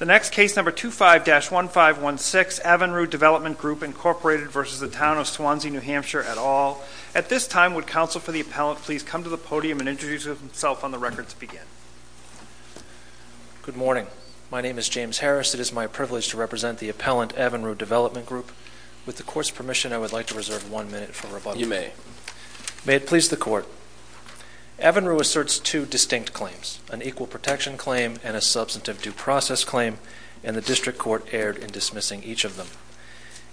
The next case, number 25-1516, Avanru Development Group, Inc. v. Town of Swanzey, NH, et al. At this time, would counsel for the appellant please come to the podium and introduce himself on the record to begin? Good morning. My name is James Harris. It is my privilege to represent the appellant, Avanru Development Group. With the court's permission, I would like to reserve one minute for rebuttal. You may. May it please the court. Avanru asserts two distinct claims, an equal protection claim and a substantive due process claim, and the district court erred in dismissing each of them.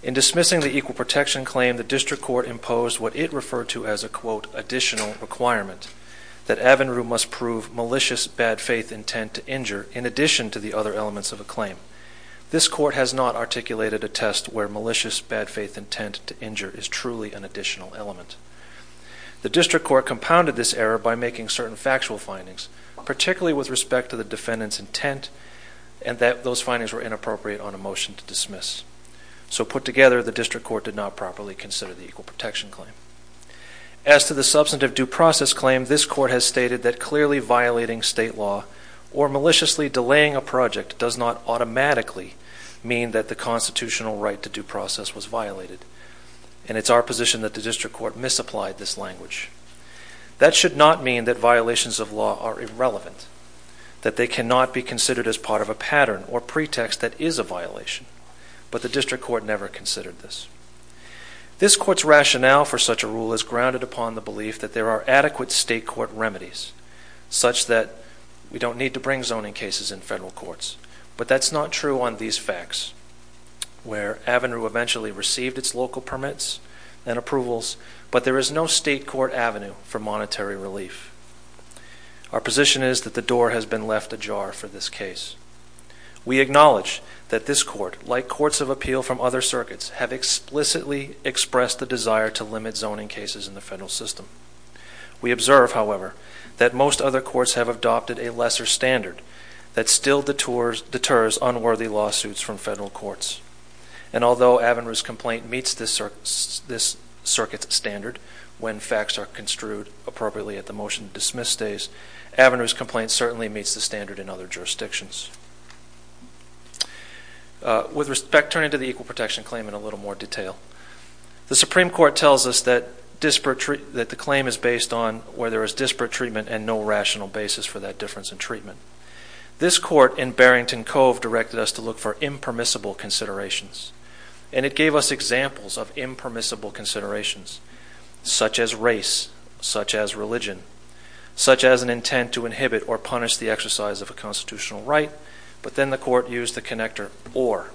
In dismissing the equal protection claim, the district court imposed what it referred to as a, quote, additional requirement, that Avanru must prove malicious bad faith intent to injure in addition to the other elements of a claim. This court has not articulated a test where malicious bad faith intent to injure is truly an additional element. The district court compounded this error by making certain factual findings, particularly with respect to the defendant's intent, and that those findings were inappropriate on a motion to dismiss. So put together, the district court did not properly consider the equal protection claim. As to the substantive due process claim, this court has stated that clearly violating state law or maliciously delaying a project does not automatically mean that the constitutional right to due process was violated, and it's our position that the district court misapplied this language. That should not mean that violations of law are irrelevant, that they cannot be considered as part of a pattern or pretext that is a violation. But the district court never considered this. This court's rationale for such a rule is grounded upon the belief that there are adequate state court remedies, such that we don't need to bring zoning cases in federal courts. But that's not true on these facts, where Avanru eventually received its local permits and approvals, but there is no state court avenue for monetary relief. Our position is that the door has been left ajar for this case. We acknowledge that this court, like courts of appeal from other circuits, have explicitly expressed the desire to limit zoning cases in the federal system. We observe, however, that most other courts have adopted a lesser standard that still deters unworthy lawsuits from federal courts. And although Avanru's complaint meets this circuit's standard, when facts are construed appropriately at the motion to dismiss days, Avanru's complaint certainly meets the standard in other jurisdictions. With respect, turning to the equal protection claim in a little more detail. The Supreme Court tells us that the claim is based on where there is disparate treatment and no rational basis for that difference in treatment. This court in Barrington Cove directed us to look for impermissible considerations. And it gave us examples of impermissible considerations, such as race, such as religion, such as an intent to inhibit or punish the exercise of a constitutional right. But then the court used the connector or,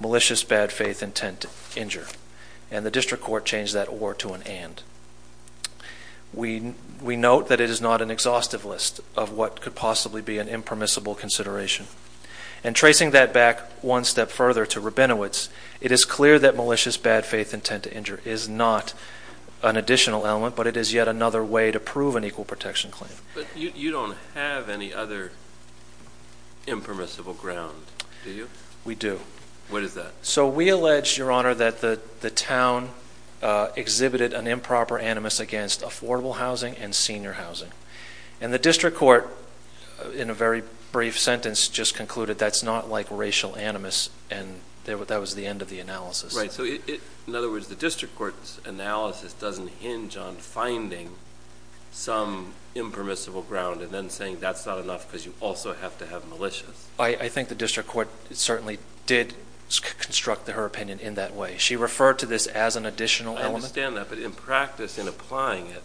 malicious bad faith intent to injure. And the district court changed that or to an and. We note that it is not an exhaustive list of what could possibly be an impermissible consideration. And tracing that back one step further to Rabinowitz, it is clear that malicious bad faith intent to injure is not an additional element, but it is yet another way to prove an equal protection claim. But you don't have any other impermissible ground, do you? We do. What is that? So we allege, Your Honor, that the town exhibited an improper animus against affordable housing and senior housing. And the district court, in a very brief sentence, just concluded that's not like racial animus and that was the end of the analysis. So in other words, the district court's analysis doesn't hinge on finding some impermissible ground and then saying that's not enough because you also have to have malicious. I think the district court certainly did construct her opinion in that way. She referred to this as an additional element. I understand that. But in practice, in applying it,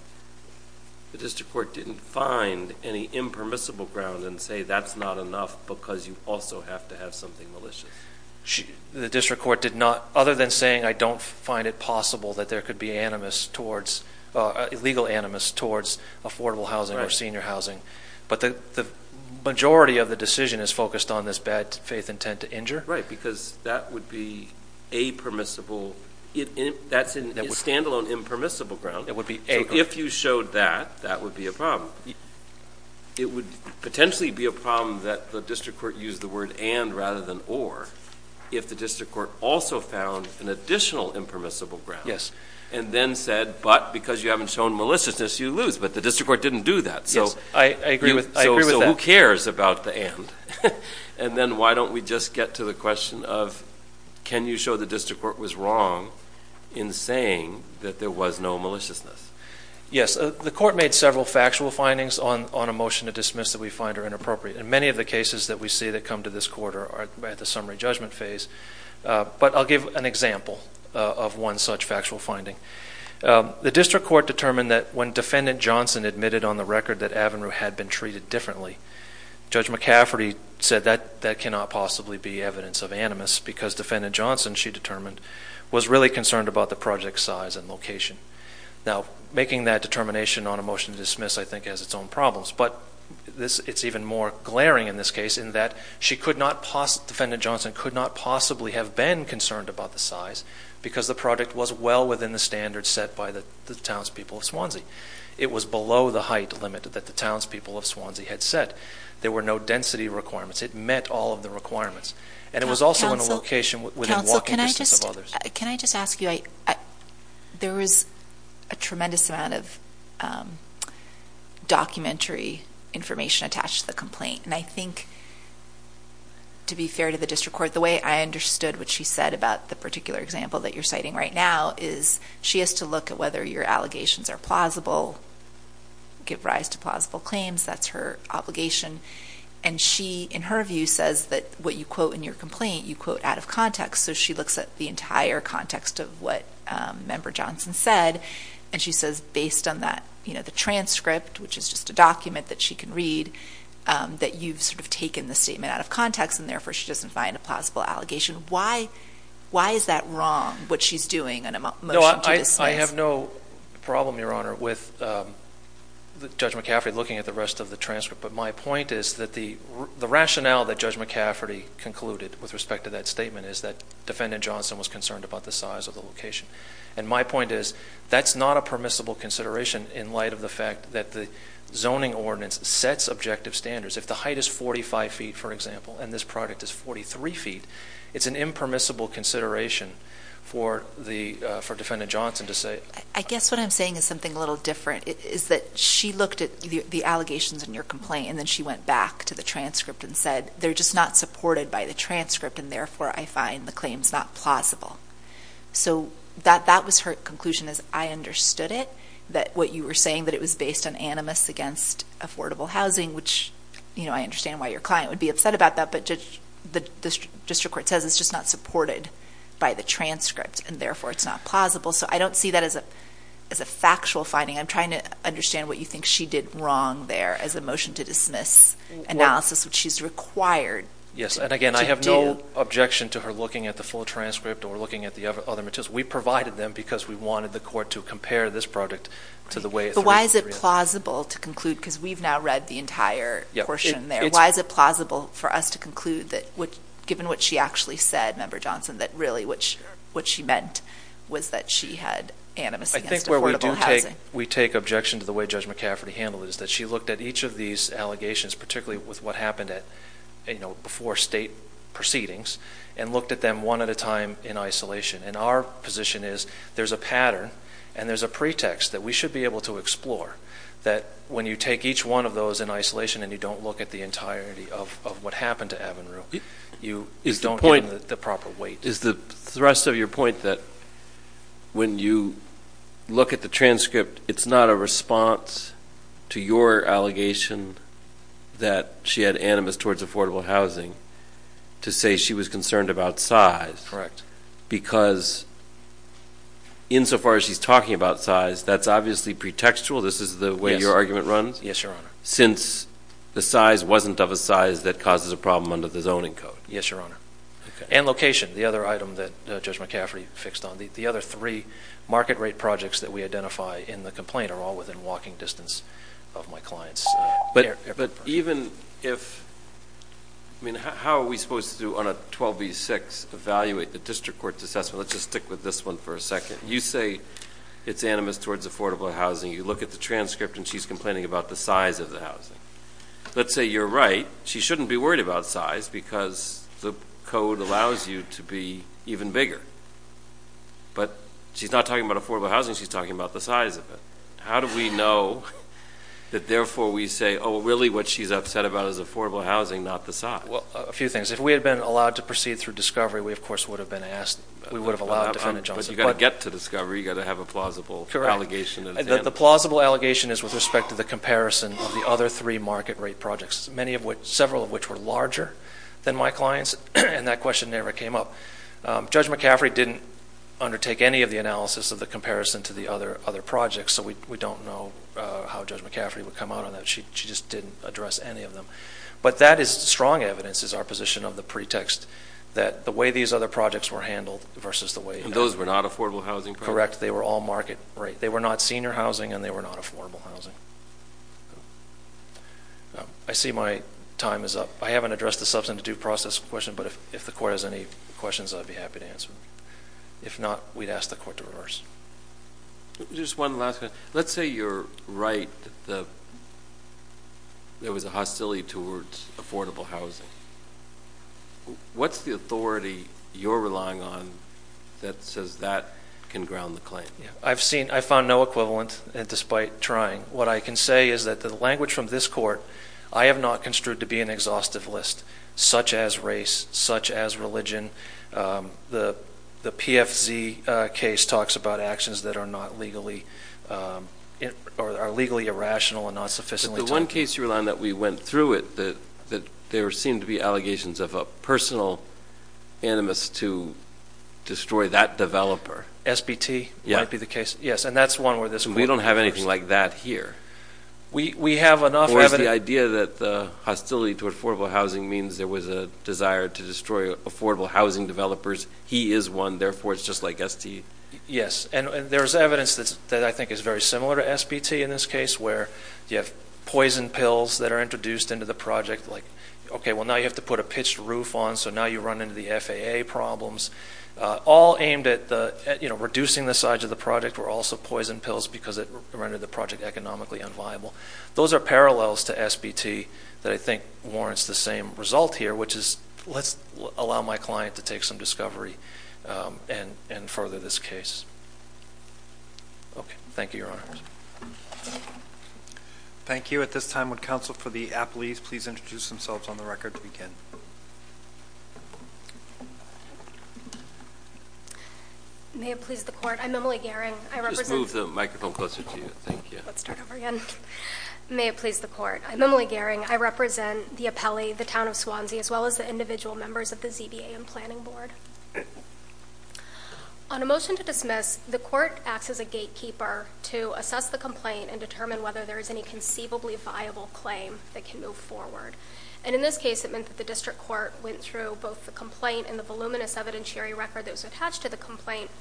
the district court didn't find any impermissible ground and say that's not enough because you also have to have something malicious. The district court did not, other than saying I don't find it possible that there could be animus towards, legal animus towards affordable housing or senior housing. But the majority of the decision is focused on this bad faith intent to injure. Right, because that would be a permissible, that's a standalone impermissible ground. It would be a. If you showed that, that would be a problem. It would potentially be a problem that the district court used the word and rather than or if the district court also found an additional impermissible ground. Yes. And then said but because you haven't shown maliciousness, you lose. But the district court didn't do that. Yes. I agree with that. So who cares about the and? And then why don't we just get to the question of can you show the district court was wrong in saying that there was no maliciousness? Yes. The court made several factual findings on a motion to dismiss that we find are inappropriate. And many of the cases that we see that come to this court are at the summary judgment phase. But I'll give an example of one such factual finding. The district court determined that when Defendant Johnson admitted on the record that Avinru had been treated differently, Judge McCafferty said that that cannot possibly be evidence of animus because Defendant Johnson, she determined, was really concerned about the project size and location. Now, making that determination on a motion to dismiss, I think, has its own problems. But it's even more glaring in this case in that she could not, Defendant Johnson could not possibly have been concerned about the size because the project was well within the standards set by the townspeople of Swansea. It was below the height limit that the townspeople of Swansea had set. There were no density requirements. It met all of the requirements. And it was also in a location within walking distance of others. Can I just ask you, there was a tremendous amount of documentary information attached to the complaint. And I think, to be fair to the district court, the way I understood what she said about the particular example that you're citing right now is she has to look at whether your allegations are plausible, give rise to plausible claims. That's her obligation. And she, in her view, says that what you quote in your complaint, you quote out of context. So she looks at the entire context of what Member Johnson said. And she says, based on that, you know, the transcript, which is just a document that she can read, that you've sort of taken the statement out of context and therefore she doesn't find a plausible allegation. Why is that wrong, what she's doing in a motion to dismiss? No, I have no problem, Your Honor, with Judge McCaffrey looking at the rest of the transcript. But my point is that the rationale that Judge McCaffrey concluded with respect to that statement is that Defendant Johnson was concerned about the size of the location. And my point is that's not a permissible consideration in light of the fact that the zoning ordinance sets objective standards. If the height is 45 feet, for example, and this project is 43 feet, it's an impermissible consideration for the, for Defendant Johnson to say. I guess what I'm saying is something a little different, is that she looked at the allegations in your complaint and then she went back to the transcript and said, they're just not supported by the transcript and therefore I find the claims not plausible. So that was her conclusion, is I understood it, that what you were saying, that it was based on animus against affordable housing, which, you know, I understand why your client would be upset about that, but the district court says it's just not supported by the transcript and therefore it's not plausible. So I don't see that as a factual finding. I'm trying to understand what you think she did wrong there as a motion to dismiss analysis, which she's required to do. Yes, and again, I have no objection to her looking at the full transcript or looking at the other materials. We provided them because we wanted the court to compare this project to the way it's Is it plausible to conclude, because we've now read the entire portion there, why is it plausible for us to conclude that, given what she actually said, Member Johnson, that really what she meant was that she had animus against affordable housing? We take objection to the way Judge McCafferty handled it, is that she looked at each of these allegations, particularly with what happened before state proceedings, and looked at them one at a time in isolation. And our position is, there's a pattern and there's a pretext that we should be able to explore, that when you take each one of those in isolation and you don't look at the entirety of what happened to Avinru, you don't get the proper weight. Is the thrust of your point that when you look at the transcript, it's not a response to your allegation that she had animus towards affordable housing, to say she was concerned about size? Correct. Because, insofar as she's talking about size, that's obviously pretextual, this is the way your argument runs? Yes, Your Honor. Since the size wasn't of a size that causes a problem under the zoning code? Yes, Your Honor. And location, the other item that Judge McCafferty fixed on. The other three market rate projects that we identify in the complaint are all within walking distance of my client's airport. But even if, I mean, how are we supposed to, on a 12 v. 6, evaluate the district court's assessment? Let's just stick with this one for a second. You say it's animus towards affordable housing. You look at the transcript and she's complaining about the size of the housing. Let's say you're right. She shouldn't be worried about size because the code allows you to be even bigger. But she's not talking about affordable housing, she's talking about the size of it. How do we know that therefore we say, oh, really what she's upset about is affordable housing, not the size? Well, a few things. If we had been allowed to proceed through discovery, we of course would have been asked, we would have allowed defendant Johnson. But you've got to get to discovery, you've got to have a plausible allegation at hand. Correct. The plausible allegation is with respect to the comparison of the other three market rate projects, many of which, several of which were larger than my client's, and that question never came up. Judge McCafferty didn't undertake any of the analysis of the comparison to the other projects, so we don't know how Judge McCafferty would come out on that. She just didn't address any of them. But that is strong evidence, is our position of the pretext, that the way these other projects were handled versus the way... And those were not affordable housing projects? Correct. They were all market rate. They were not senior housing and they were not affordable housing. I see my time is up. I haven't addressed the substantive due process question, but if the court has any questions, I'd be happy to answer them. If not, we'd ask the court to reverse. Just one last question. Let's say you're right that there was a hostility towards affordable housing. What's the authority you're relying on that says that can ground the claim? I've seen... I found no equivalent, despite trying. What I can say is that the language from this court, I have not construed to be an exhaustive list, such as race, such as religion. The PFZ case talks about actions that are legally irrational and not sufficiently... The one case you rely on that we went through it, that there seemed to be allegations of a personal animus to destroy that developer. SBT might be the case. Yes. And that's one where this court reversed. We don't have anything like that here. We have enough... Or is the idea that the hostility to affordable housing means there was a desire to destroy affordable housing developers? He is one. Therefore, it's just like ST. Yes. And there's evidence that I think is very similar to SBT in this case, where you have poison pills that are introduced into the project, like, okay, well, now you have to put a pitched roof on, so now you run into the FAA problems. All aimed at reducing the size of the project were also poison pills because it rendered the project economically unviable. Those are parallels to SBT that I think warrants the same result here, which is, let's allow my client to take some discovery and further this case. Okay. Thank you, Your Honors. Thank you. At this time, would counsel for the aplees please introduce themselves on the record to begin? May it please the court. I'm Emily Gehring. I represent... Just move the microphone closer to you. Thank you. Let's start over again. I'm Emily Gehring. May it please the court. I'm Emily Gehring. I represent the apellee, the Town of Swansea, as well as the individual members of the ZBA and Planning Board. On a motion to dismiss, the court acts as a gatekeeper to assess the complaint and determine whether there is any conceivably viable claim that can move forward. And in this case, it meant that the district court went through both the complaint and the voluminous evidentiary record that was attached to the complaint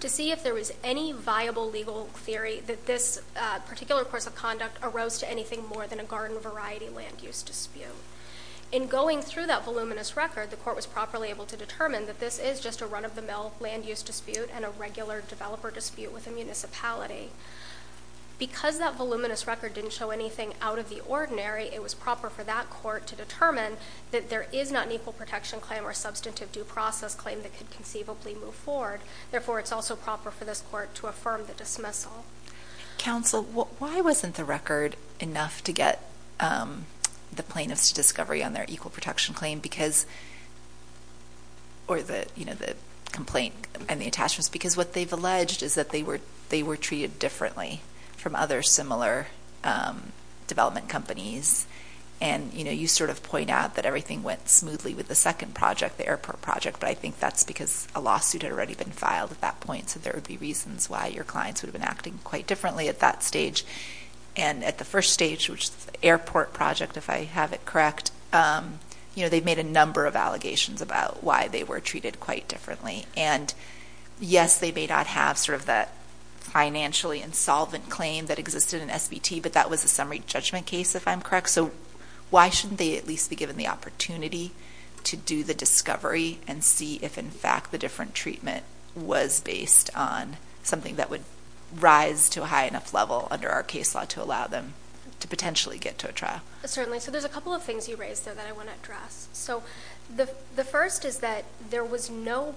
to see if there was any viable legal theory that this particular course of conduct arose to anything more than a garden variety land use dispute. In going through that voluminous record, the court was properly able to determine that this is just a run-of-the-mill land use dispute and a regular developer dispute with a municipality. Because that voluminous record didn't show anything out of the ordinary, it was proper for that court to determine that there is not an equal protection claim or substantive due process claim that could conceivably move forward. Therefore, it's also proper for this court to affirm the dismissal. Counsel, why wasn't the record enough to get the plaintiffs to discovery on their equal protection claim because, or the complaint and the attachments? Because what they've alleged is that they were treated differently from other similar development companies. And, you know, you sort of point out that everything went smoothly with the second project, the airport project. But I think that's because a lawsuit had already been filed at that point. So there would be reasons why your clients would have been acting quite differently at that stage. And at the first stage, which is the airport project, if I have it correct, you know, they've made a number of allegations about why they were treated quite differently. And yes, they may not have sort of that financially insolvent claim that existed in SBT, but that was a summary judgment case, if I'm correct. So why shouldn't they at least be given the opportunity to do the discovery and see if, in fact, the different treatment was based on something that would rise to a high enough level under our case law to allow them to potentially get to a trial? Certainly. So there's a couple of things you raised, though, that I want to address. So the first is that there was no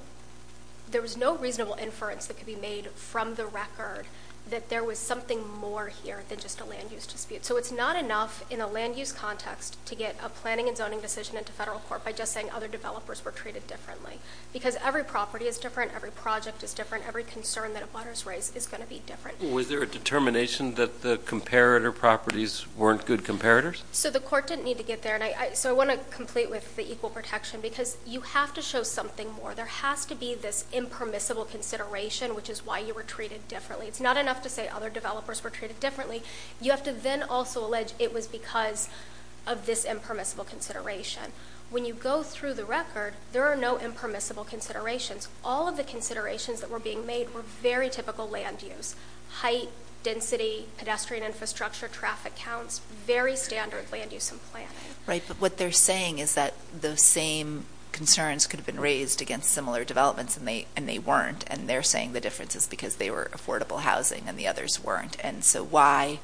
reasonable inference that could be made from the record that there was something more here than just a land use dispute. So it's not enough in a land use context to get a planning and zoning decision into federal court by just saying other developers were treated differently. Because every property is different, every project is different, every concern that a butter's raised is going to be different. Was there a determination that the comparator properties weren't good comparators? So the court didn't need to get there, and so I want to complete with the equal protection, because you have to show something more. There has to be this impermissible consideration, which is why you were treated differently. It's not enough to say other developers were treated differently. You have to then also allege it was because of this impermissible consideration. When you go through the record, there are no impermissible considerations. All of the considerations that were being made were very typical land use. Height, density, pedestrian infrastructure, traffic counts, very standard land use and planning. Right, but what they're saying is that those same concerns could have been raised against similar developments, and they weren't. And they're saying the difference is because they were affordable housing and the others weren't. And so why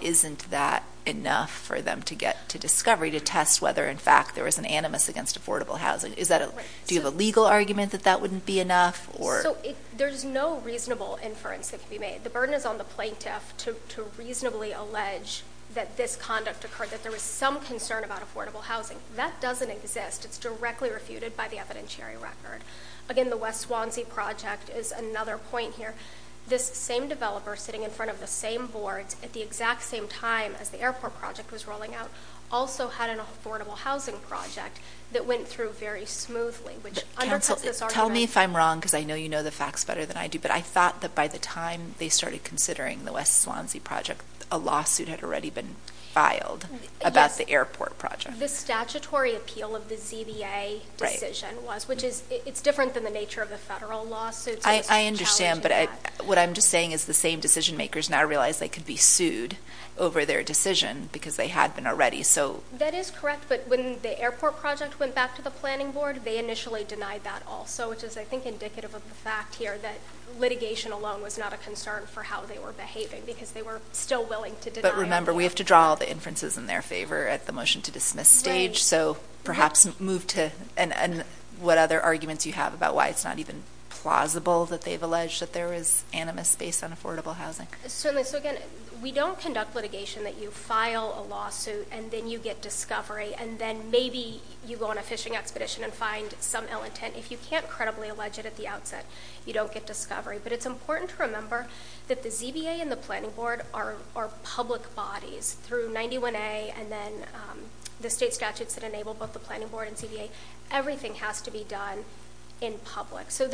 isn't that enough for them to get to discovery to test whether, in fact, there was an animus against affordable housing? Is that a- Do you have a legal argument that that wouldn't be enough, or- There's no reasonable inference that can be made. The burden is on the plaintiff to reasonably allege that this conduct occurred, that there was some concern about affordable housing. That doesn't exist. It's directly refuted by the evidentiary record. Again, the West Swansea project is another point here. This same developer sitting in front of the same boards at the exact same time as the airport project was rolling out also had an affordable housing project that went through very smoothly, which undercuts this argument. Tell me if I'm wrong, because I know you know the facts better than I do, but I thought that by the time they started considering the West Swansea project, a lawsuit had already been filed about the airport project. The statutory appeal of the ZBA decision was, which is, it's different than the nature of the federal lawsuits. I understand, but what I'm just saying is the same decision makers now realize they could be sued over their decision, because they had been already, so- That is correct, but when the airport project went back to the planning board, they initially denied that also, which is, I think, indicative of the fact here that litigation alone was not a concern for how they were behaving, because they were still willing to deny- But remember, we have to draw all the inferences in their favor at the motion to dismiss stage, so perhaps move to, and what other arguments you have about why it's not even plausible that they've alleged that there was animus based on affordable housing. Certainly. So again, we don't conduct litigation that you file a lawsuit, and then you get discovery, and then maybe you go on a fishing expedition and find some ill intent. If you can't credibly allege it at the outset, you don't get discovery, but it's important to remember that the ZBA and the planning board are public bodies. Through 91A and then the state statutes that enable both the planning board and ZBA, everything has to be done in public. So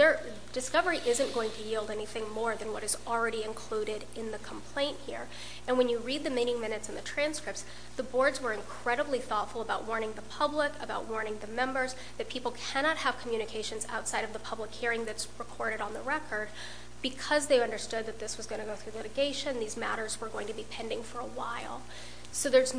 discovery isn't going to yield anything more than what is already included in the complaint here, and when you read the meeting minutes and the transcripts, the boards were incredibly thoughtful about warning the public, about warning the members, that people cannot have communications outside of the public hearing that's recorded on the record, because they understood that this was going to go through litigation, these matters were going to be pending for a while. So there's,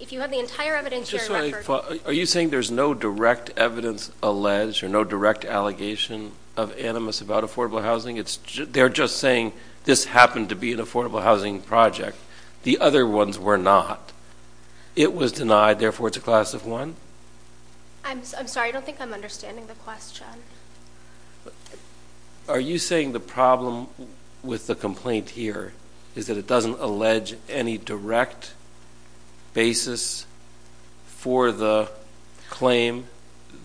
if you have the entire evidence, you're in record. Are you saying there's no direct evidence alleged, or no direct allegation of animus about affordable housing? They're just saying this happened to be an affordable housing project. The other ones were not. It was denied, therefore it's a class of one? I'm sorry, I don't think I'm understanding the question. Are you saying the problem with the complaint here is that it doesn't allege any direct basis for the claim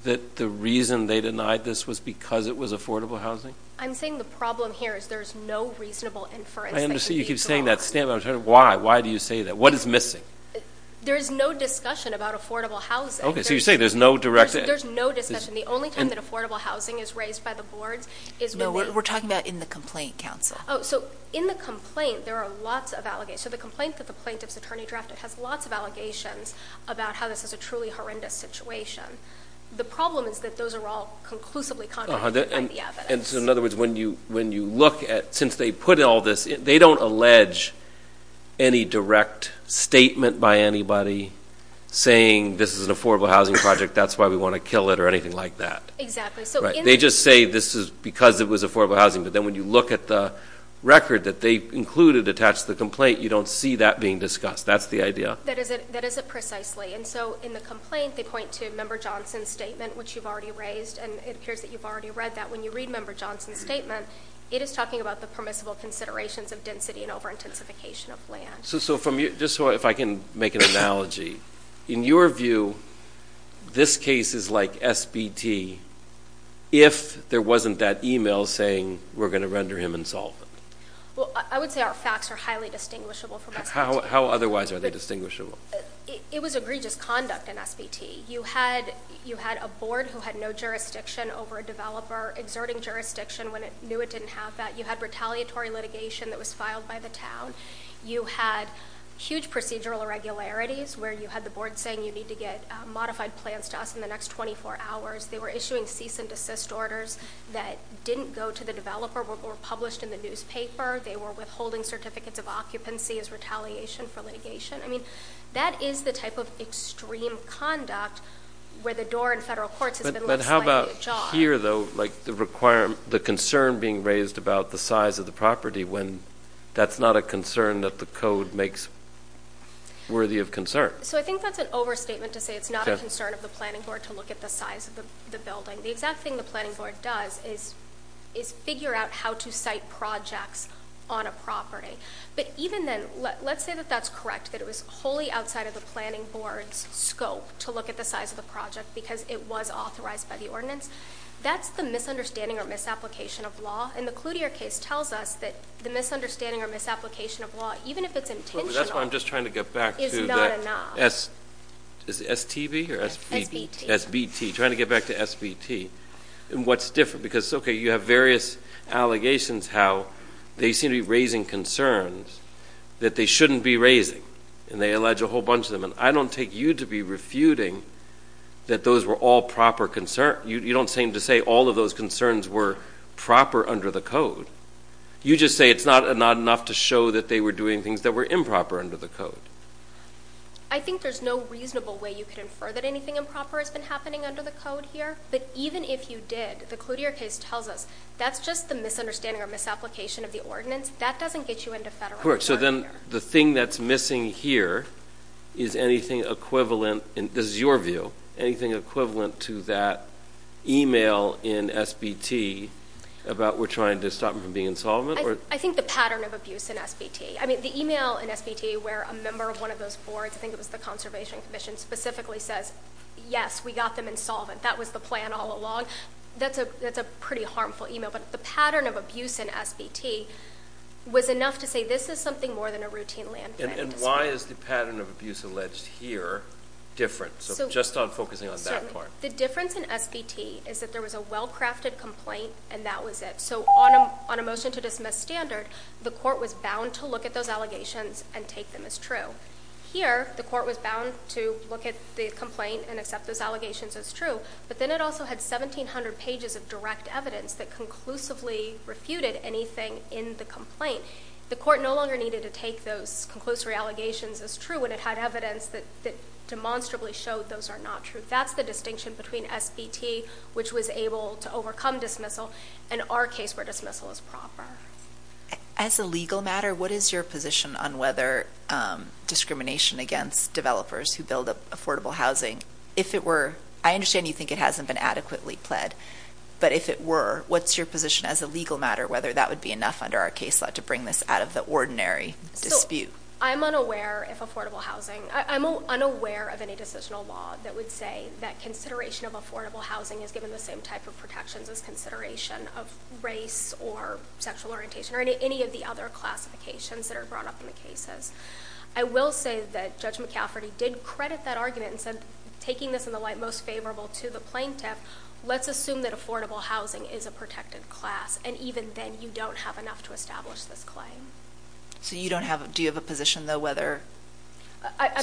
that the reason they denied this was because it was affordable housing? I'm saying the problem here is there's no reasonable inference that can be drawn. You keep saying that. Why? Why do you say that? What is missing? There is no discussion about affordable housing. Okay, so you're saying there's no direct evidence? There's no discussion. The only time that affordable housing is raised by the boards is when they... No, we're talking about in the complaint, counsel. Oh, so in the complaint, there are lots of allegations. So the complaint that the plaintiff's attorney drafted has lots of allegations about how this is a truly horrendous situation. The problem is that those are all conclusively contradicted by the evidence. And so in other words, when you look at, since they put all this, they don't allege any direct statement by anybody saying this is an affordable housing project, that's why we want to kill it or anything like that. Right. They just say this is because it was affordable housing, but then when you look at the record that they included attached to the complaint, you don't see that being discussed. That's the idea. That is it. That is it precisely. And so in the complaint, they point to Member Johnson's statement, which you've already raised. And it appears that you've already read that. When you read Member Johnson's statement, it is talking about the permissible considerations of density and over-intensification of land. So just so if I can make an analogy, in your view, this case is like SBT if there wasn't that email saying we're going to render him insolvent. Well, I would say our facts are highly distinguishable from SBT. How otherwise are they distinguishable? It was egregious conduct in SBT. You had a board who had no jurisdiction over a developer exerting jurisdiction when it knew it didn't have that. You had retaliatory litigation that was filed by the town. You had huge procedural irregularities where you had the board saying you need to get modified plans to us in the next 24 hours. They were issuing cease and desist orders that didn't go to the developer, were published in the newspaper. They were withholding certificates of occupancy as retaliation for litigation. I mean, that is the type of extreme conduct where the door in federal courts has been left slightly ajar. But how about here, though, like the concern being raised about the size of the property when that's not a concern that the code makes worthy of concern? So I think that's an overstatement to say it's not a concern of the planning board to look at the size of the building. The exact thing the planning board does is figure out how to cite projects on a property. But even then, let's say that that's correct, that it was wholly outside of the planning board's scope to look at the size of the project because it was authorized by the ordinance. That's the misunderstanding or misapplication of law. And the Cloutier case tells us that the misunderstanding or misapplication of law, even if it's intentional, But that's what I'm just trying to get back to, the STB or SBT, trying to get back to SBT and what's different. Because okay, you have various allegations how they seem to be raising concerns that they shouldn't be raising, and they allege a whole bunch of them. And I don't take you to be refuting that those were all proper concerns. You don't seem to say all of those concerns were proper under the code. You just say it's not enough to show that they were doing things that were improper under the code. I think there's no reasonable way you could infer that anything improper has been happening under the code here. But even if you did, the Cloutier case tells us that's just the misunderstanding or misapplication of the ordinance. That doesn't get you into federal court. Correct. So then the thing that's missing here is anything equivalent, and this is your view, anything equivalent to that email in SBT about we're trying to stop them from being insolvent? I think the pattern of abuse in SBT, I mean, the email in SBT where a member of one of those boards, I think it was the Conservation Commission, specifically says, yes, we got them insolvent. That was the plan all along. That's a pretty harmful email. But the pattern of abuse in SBT was enough to say this is something more than a routine land planning dispute. And why is the pattern of abuse alleged here different? So just on focusing on that part. The difference in SBT is that there was a well-crafted complaint, and that was it. So on a motion to dismiss standard, the court was bound to look at those allegations and take them as true. Here, the court was bound to look at the complaint and accept those allegations as true. But then it also had 1,700 pages of direct evidence that conclusively refuted anything in the complaint. The court no longer needed to take those conclusive allegations as true when it had evidence that demonstrably showed those are not true. That's the distinction between SBT, which was able to overcome dismissal, and our case where dismissal is proper. As a legal matter, what is your position on whether discrimination against developers who build affordable housing, if it were, I understand you think it hasn't been adequately pled, but if it were, what's your position as a legal matter whether that would be enough under our case law to bring this out of the ordinary dispute? I'm unaware of affordable housing. I'm unaware of any decisional law that would say that consideration of affordable housing is given the same type of protections as consideration of race or sexual orientation or any of the other classifications that are brought up in the cases. I will say that Judge McCafferty did credit that argument and said, taking this in the light most favorable to the plaintiff, let's assume that affordable housing is a protected class, and even then, you don't have enough to establish this claim. Do you have a position, though,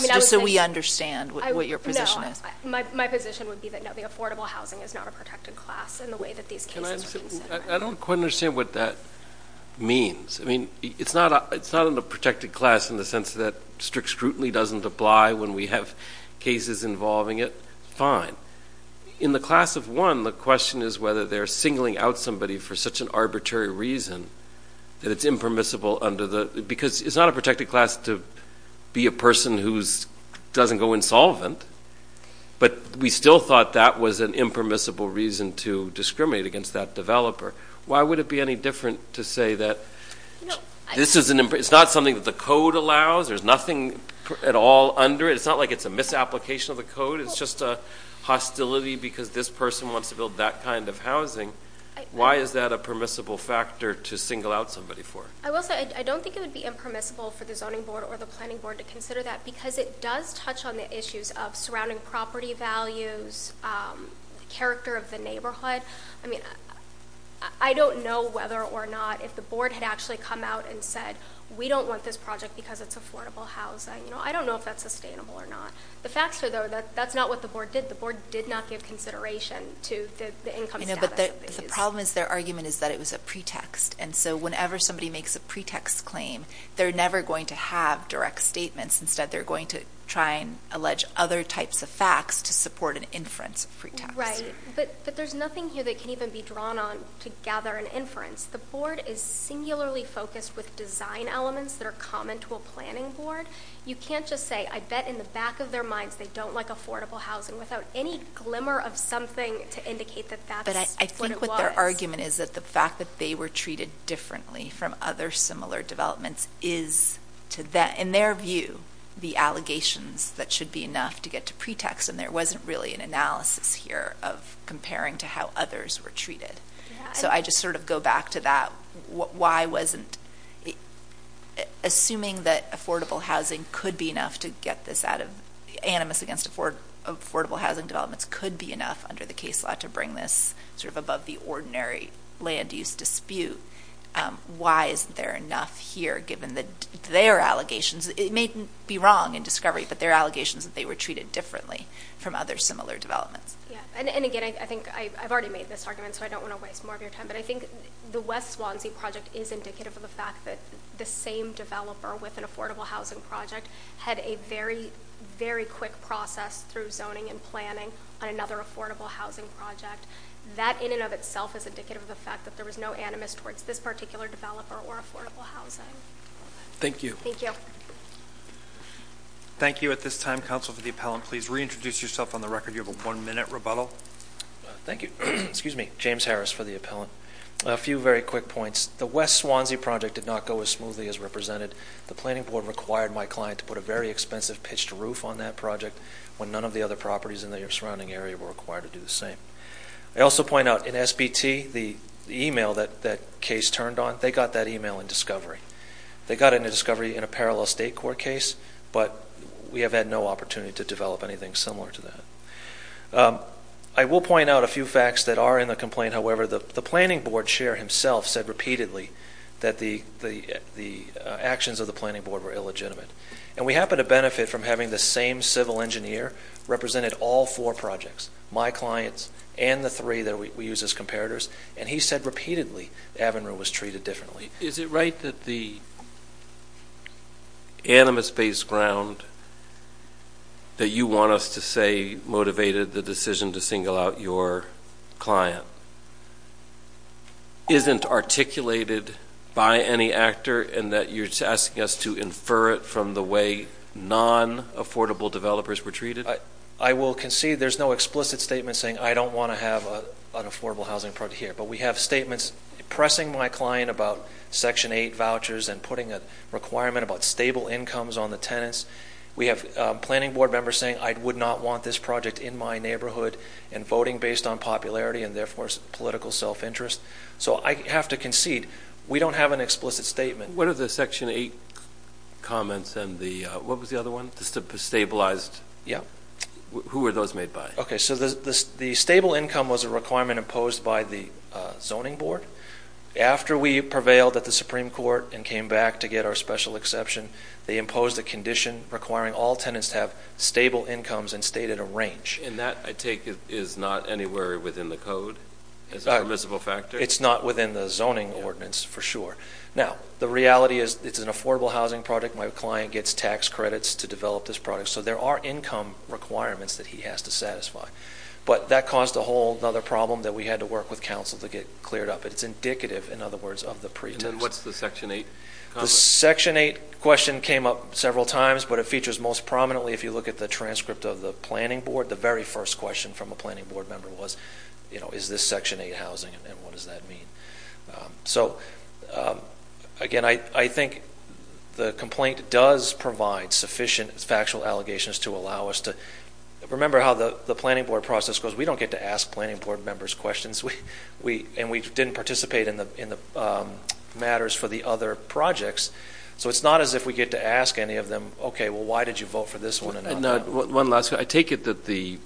just so we understand what your position is? My position would be that the affordable housing is not a protected class in the way that these cases are considered. I don't quite understand what that means. It's not a protected class in the sense that strict scrutiny doesn't apply when we have cases involving it. Fine. In the class of one, the question is whether they're singling out somebody for such an arbitrary reason that it's impermissible under the—because it's not a protected class to be a person who doesn't go insolvent, but we still thought that was an impermissible reason to discriminate against that developer. Why would it be any different to say that this is an—it's not something that the code allows. There's nothing at all under it. It's not like it's a misapplication of the code. It's just a hostility because this person wants to build that kind of housing. Why is that a permissible factor to single out somebody for? I will say, I don't think it would be impermissible for the zoning board or the planning board to consider that because it does touch on the issues of surrounding property values, the character of the neighborhood. I mean, I don't know whether or not if the board had actually come out and said, we don't want this project because it's affordable housing. I don't know if that's sustainable or not. The facts are, though, that that's not what the board did. The board did not give consideration to the income status of the user. You know, but the problem is their argument is that it was a pretext, and so whenever somebody makes a pretext claim, they're never going to have direct statements. Instead, they're going to try and allege other types of facts to support an inference pretext. Right. But there's nothing here that can even be drawn on to gather an inference. The board is singularly focused with design elements that are common to a planning board. You can't just say, I bet in the back of their minds they don't like affordable housing without any glimmer of something to indicate that that's what it was. But I think what their argument is that the fact that they were treated differently from other similar developments is, in their view, the allegations that should be enough to get to pretext. And there wasn't really an analysis here of comparing to how others were treated. So I just sort of go back to that, why wasn't assuming that affordable housing could be enough to get this out of, animus against affordable housing developments could be enough under the case law to bring this sort of above the ordinary land use dispute. Why isn't there enough here, given that their allegations, it may be wrong in discovery, but their allegations that they were treated differently from other similar developments. Yeah. And again, I think I've already made this argument, so I don't want to waste more of your time. But I think the West Swansea project is indicative of the fact that the same developer with an affordable housing project had a very, very quick process through zoning and planning on another affordable housing project. That in and of itself is indicative of the fact that there was no animus towards this particular developer or affordable housing. Thank you. Thank you. Thank you. At this time, counsel for the appellant, please reintroduce yourself on the record. You have a one minute rebuttal. Thank you. Excuse me. James Harris for the appellant. A few very quick points. The West Swansea project did not go as smoothly as represented. The planning board required my client to put a very expensive pitched roof on that project when none of the other properties in the surrounding area were required to do the same. I also point out in SBT, the email that that case turned on, they got that email in discovery. They got it in discovery in a parallel state court case, but we have had no opportunity to develop anything similar to that. I will point out a few facts that are in the complaint, however, the planning board chair himself said repeatedly that the actions of the planning board were illegitimate. And we happen to benefit from having the same civil engineer represented all four projects, my clients and the three that we use as comparators. And he said repeatedly, Avinru was treated differently. Is it right that the animus based ground that you want us to say motivated the decision to single out your client isn't articulated by any actor and that you're asking us to infer it from the way non-affordable developers were treated? I will concede there's no explicit statement saying I don't want to have an affordable housing project here, but we have statements pressing my client about section 8 vouchers and putting a requirement about stable incomes on the tenants. We have planning board members saying I would not want this project in my neighborhood and voting based on popularity and therefore political self-interest. So I have to concede we don't have an explicit statement. What are the section 8 comments and the, what was the other one, the stabilized, who were those made by? Okay, so the stable income was a requirement imposed by the zoning board. After we prevailed at the Supreme Court and came back to get our special exception, they imposed a condition requiring all tenants to have stable incomes and stay at a range. And that I take is not anywhere within the code as a permissible factor? It's not within the zoning ordinance for sure. Now, the reality is it's an affordable housing project. My client gets tax credits to develop this project. So there are income requirements that he has to satisfy. But that caused a whole other problem that we had to work with council to get cleared up. It's indicative, in other words, of the pretext. And then what's the section 8 comment? The section 8 question came up several times, but it features most prominently if you look at the transcript of the planning board. The very first question from a planning board member was, you know, is this section 8 housing and what does that mean? So again, I think the complaint does provide sufficient factual allegations to allow us to remember how the planning board process goes. We don't get to ask planning board members questions. And we didn't participate in the matters for the other projects. So it's not as if we get to ask any of them, okay, well, why did you vote for this one and not that one? One last question. I take it that the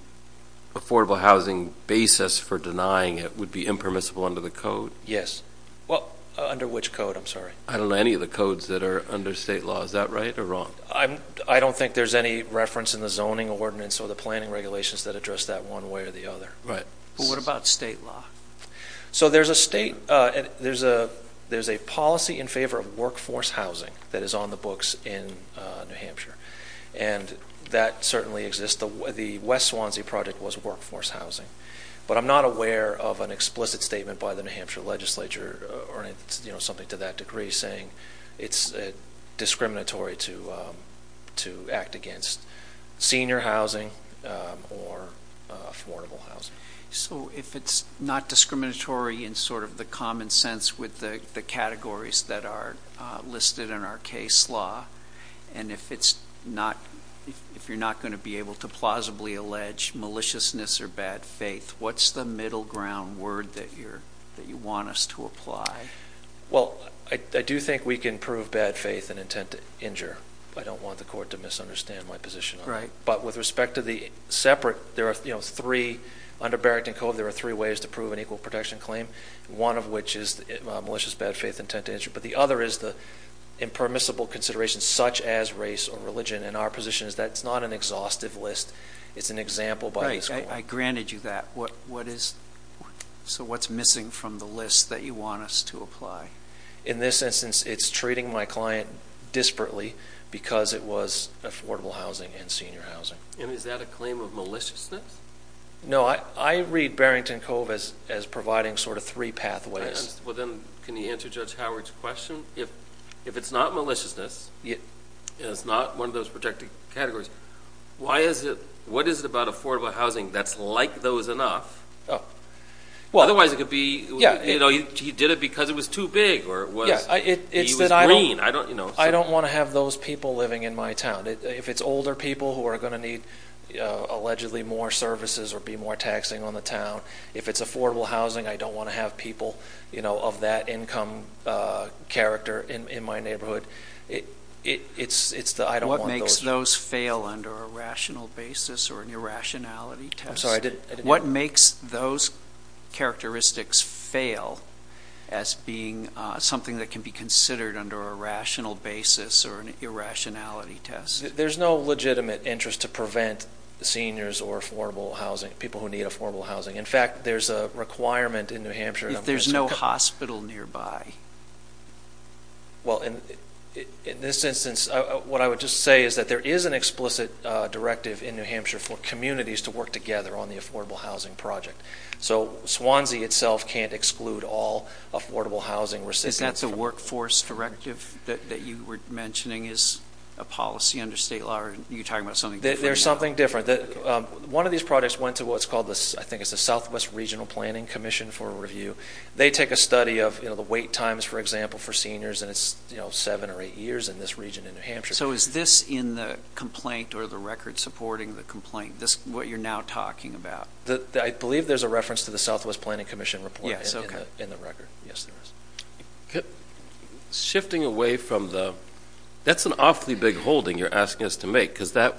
affordable housing basis for denying it would be impermissible under the code? Yes. Well, under which code? I'm sorry. I don't know any of the codes that are under state law. Is that right or wrong? I don't think there's any reference in the zoning ordinance or the planning regulations that address that one way or the other. Right. Well, what about state law? So there's a state, there's a policy in favor of workforce housing that is on the books in New Hampshire. And that certainly exists. The West Swansea project was workforce housing. But I'm not aware of an explicit statement by the New Hampshire legislature or something to that degree saying it's discriminatory to act against senior housing or affordable housing. So if it's not discriminatory in sort of the common sense with the categories that are listed in our case law, and if it's not, if you're not going to be able to plausibly allege maliciousness or bad faith, what's the middle ground word that you want us to apply? Well, I do think we can prove bad faith and intent to injure. I don't want the court to misunderstand my position on that. But with respect to the separate, there are three, under Barrington Cove, there are three ways to prove an equal protection claim. One of which is malicious, bad faith, intent to injure. But the other is the impermissible considerations such as race or religion. And our position is that it's not an exhaustive list. It's an example by this court. I granted you that. What is, so what's missing from the list that you want us to apply? In this instance, it's treating my client disparately because it was affordable housing and senior housing. And is that a claim of maliciousness? No, I read Barrington Cove as providing sort of three pathways. Well, then can you answer Judge Howard's question? If it's not maliciousness, it's not one of those protected categories, why is it, what is it about affordable housing that's like those enough? Otherwise, it could be, you know, he did it because it was too big or he was green. I don't want to have those people living in my town. If it's older people who are going to need allegedly more services or be more taxing on the town, if it's affordable housing, I don't want to have people, you know, of that income character in my neighborhood. It's the, I don't want those. What makes those fail under a rational basis or an irrationality test? I'm sorry, I didn't hear. What makes those characteristics fail as being something that can be considered under a rational basis or an irrationality test? There's no legitimate interest to prevent seniors or affordable housing, people who need affordable housing. In fact, there's a requirement in New Hampshire. There's no hospital nearby. Well, in this instance, what I would just say is that there is an explicit directive in New Hampshire for communities to work together on the affordable housing project. So Swansea itself can't exclude all affordable housing. Is that the workforce directive that you were mentioning is a policy under state law? Are you talking about something different? There's something different. One of these projects went to what's called the, I think it's the Southwest Regional Planning Commission for a review. They take a study of, you know, the wait times, for example, for seniors, and it's, you know, seven or eight years in this region in New Hampshire. So is this in the complaint or the record supporting the complaint, this, what you're now talking about? I believe there's a reference to the Southwest Planning Commission report in the record. Yes, there is. Okay. Shifting away from the, that's an awfully big holding you're asking us to make, because that,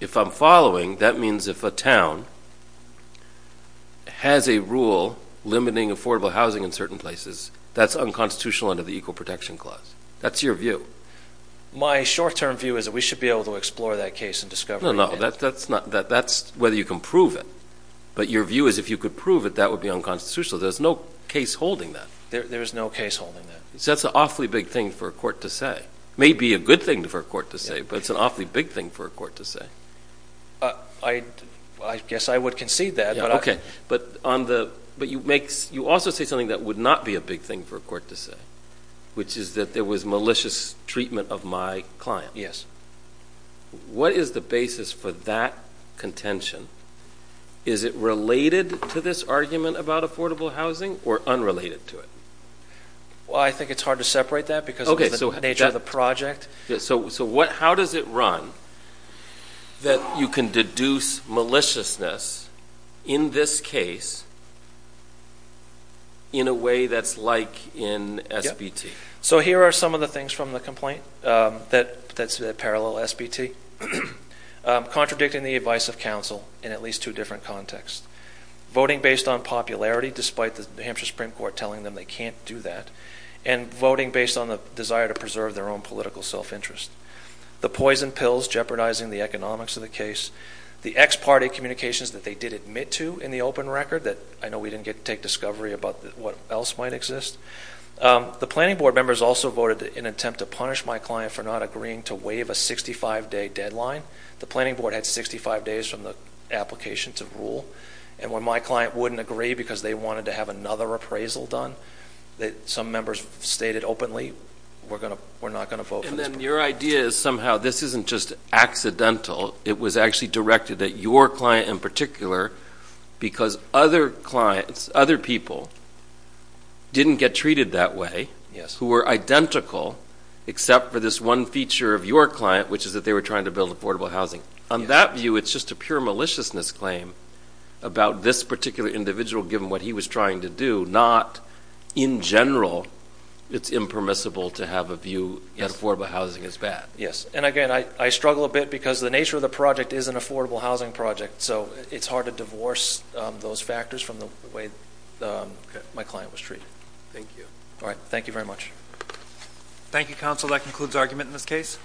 if I'm following, that means if a town has a rule limiting affordable housing in certain places, that's unconstitutional under the Equal Protection Clause. That's your view. My short-term view is that we should be able to explore that case and discover it. No, no. That's not, that's whether you can prove it. But your view is if you could prove it, that would be unconstitutional. There's no case holding that. There's no case holding that. So that's an awfully big thing for a court to say. Maybe a good thing for a court to say, but it's an awfully big thing for a court to say. I guess I would concede that, but I... But on the, but you make, you also say something that would not be a big thing for a court to say, which is that there was malicious treatment of my client. Yes. What is the basis for that contention? Is it related to this argument about affordable housing or unrelated to it? Well, I think it's hard to separate that because of the nature of the project. So what, how does it run that you can deduce maliciousness in this case in a way that's like in SBT? So here are some of the things from the complaint that, that's the parallel SBT. Contradicting the advice of counsel in at least two different contexts. Voting based on popularity despite the New Hampshire Supreme Court telling them they can't do that. And voting based on the desire to preserve their own political self-interest. The poison pills jeopardizing the economics of the case. The ex-party communications that they did admit to in the open record that I know we didn't get to take discovery about what else might exist. The planning board members also voted in attempt to punish my client for not agreeing to waive a 65-day deadline. The planning board had 65 days from the application to rule. And when my client wouldn't agree because they wanted to have another appraisal done that some members stated openly, we're going to, we're not going to vote for this. And then your idea is somehow this isn't just accidental, it was actually directed at your client in particular because other clients, other people didn't get treated that way, who were identical except for this one feature of your client, which is that they were trying to build affordable housing. On that view, it's just a pure maliciousness claim about this particular individual given what he was trying to do, not in general, it's impermissible to have a view that affordable housing is bad. Yes. And again, I struggle a bit because the nature of the project is an affordable housing project, so it's hard to divorce those factors from the way my client was treated. Thank you. All right. Thank you very much. Thank you, Counsel. That concludes argument in this case.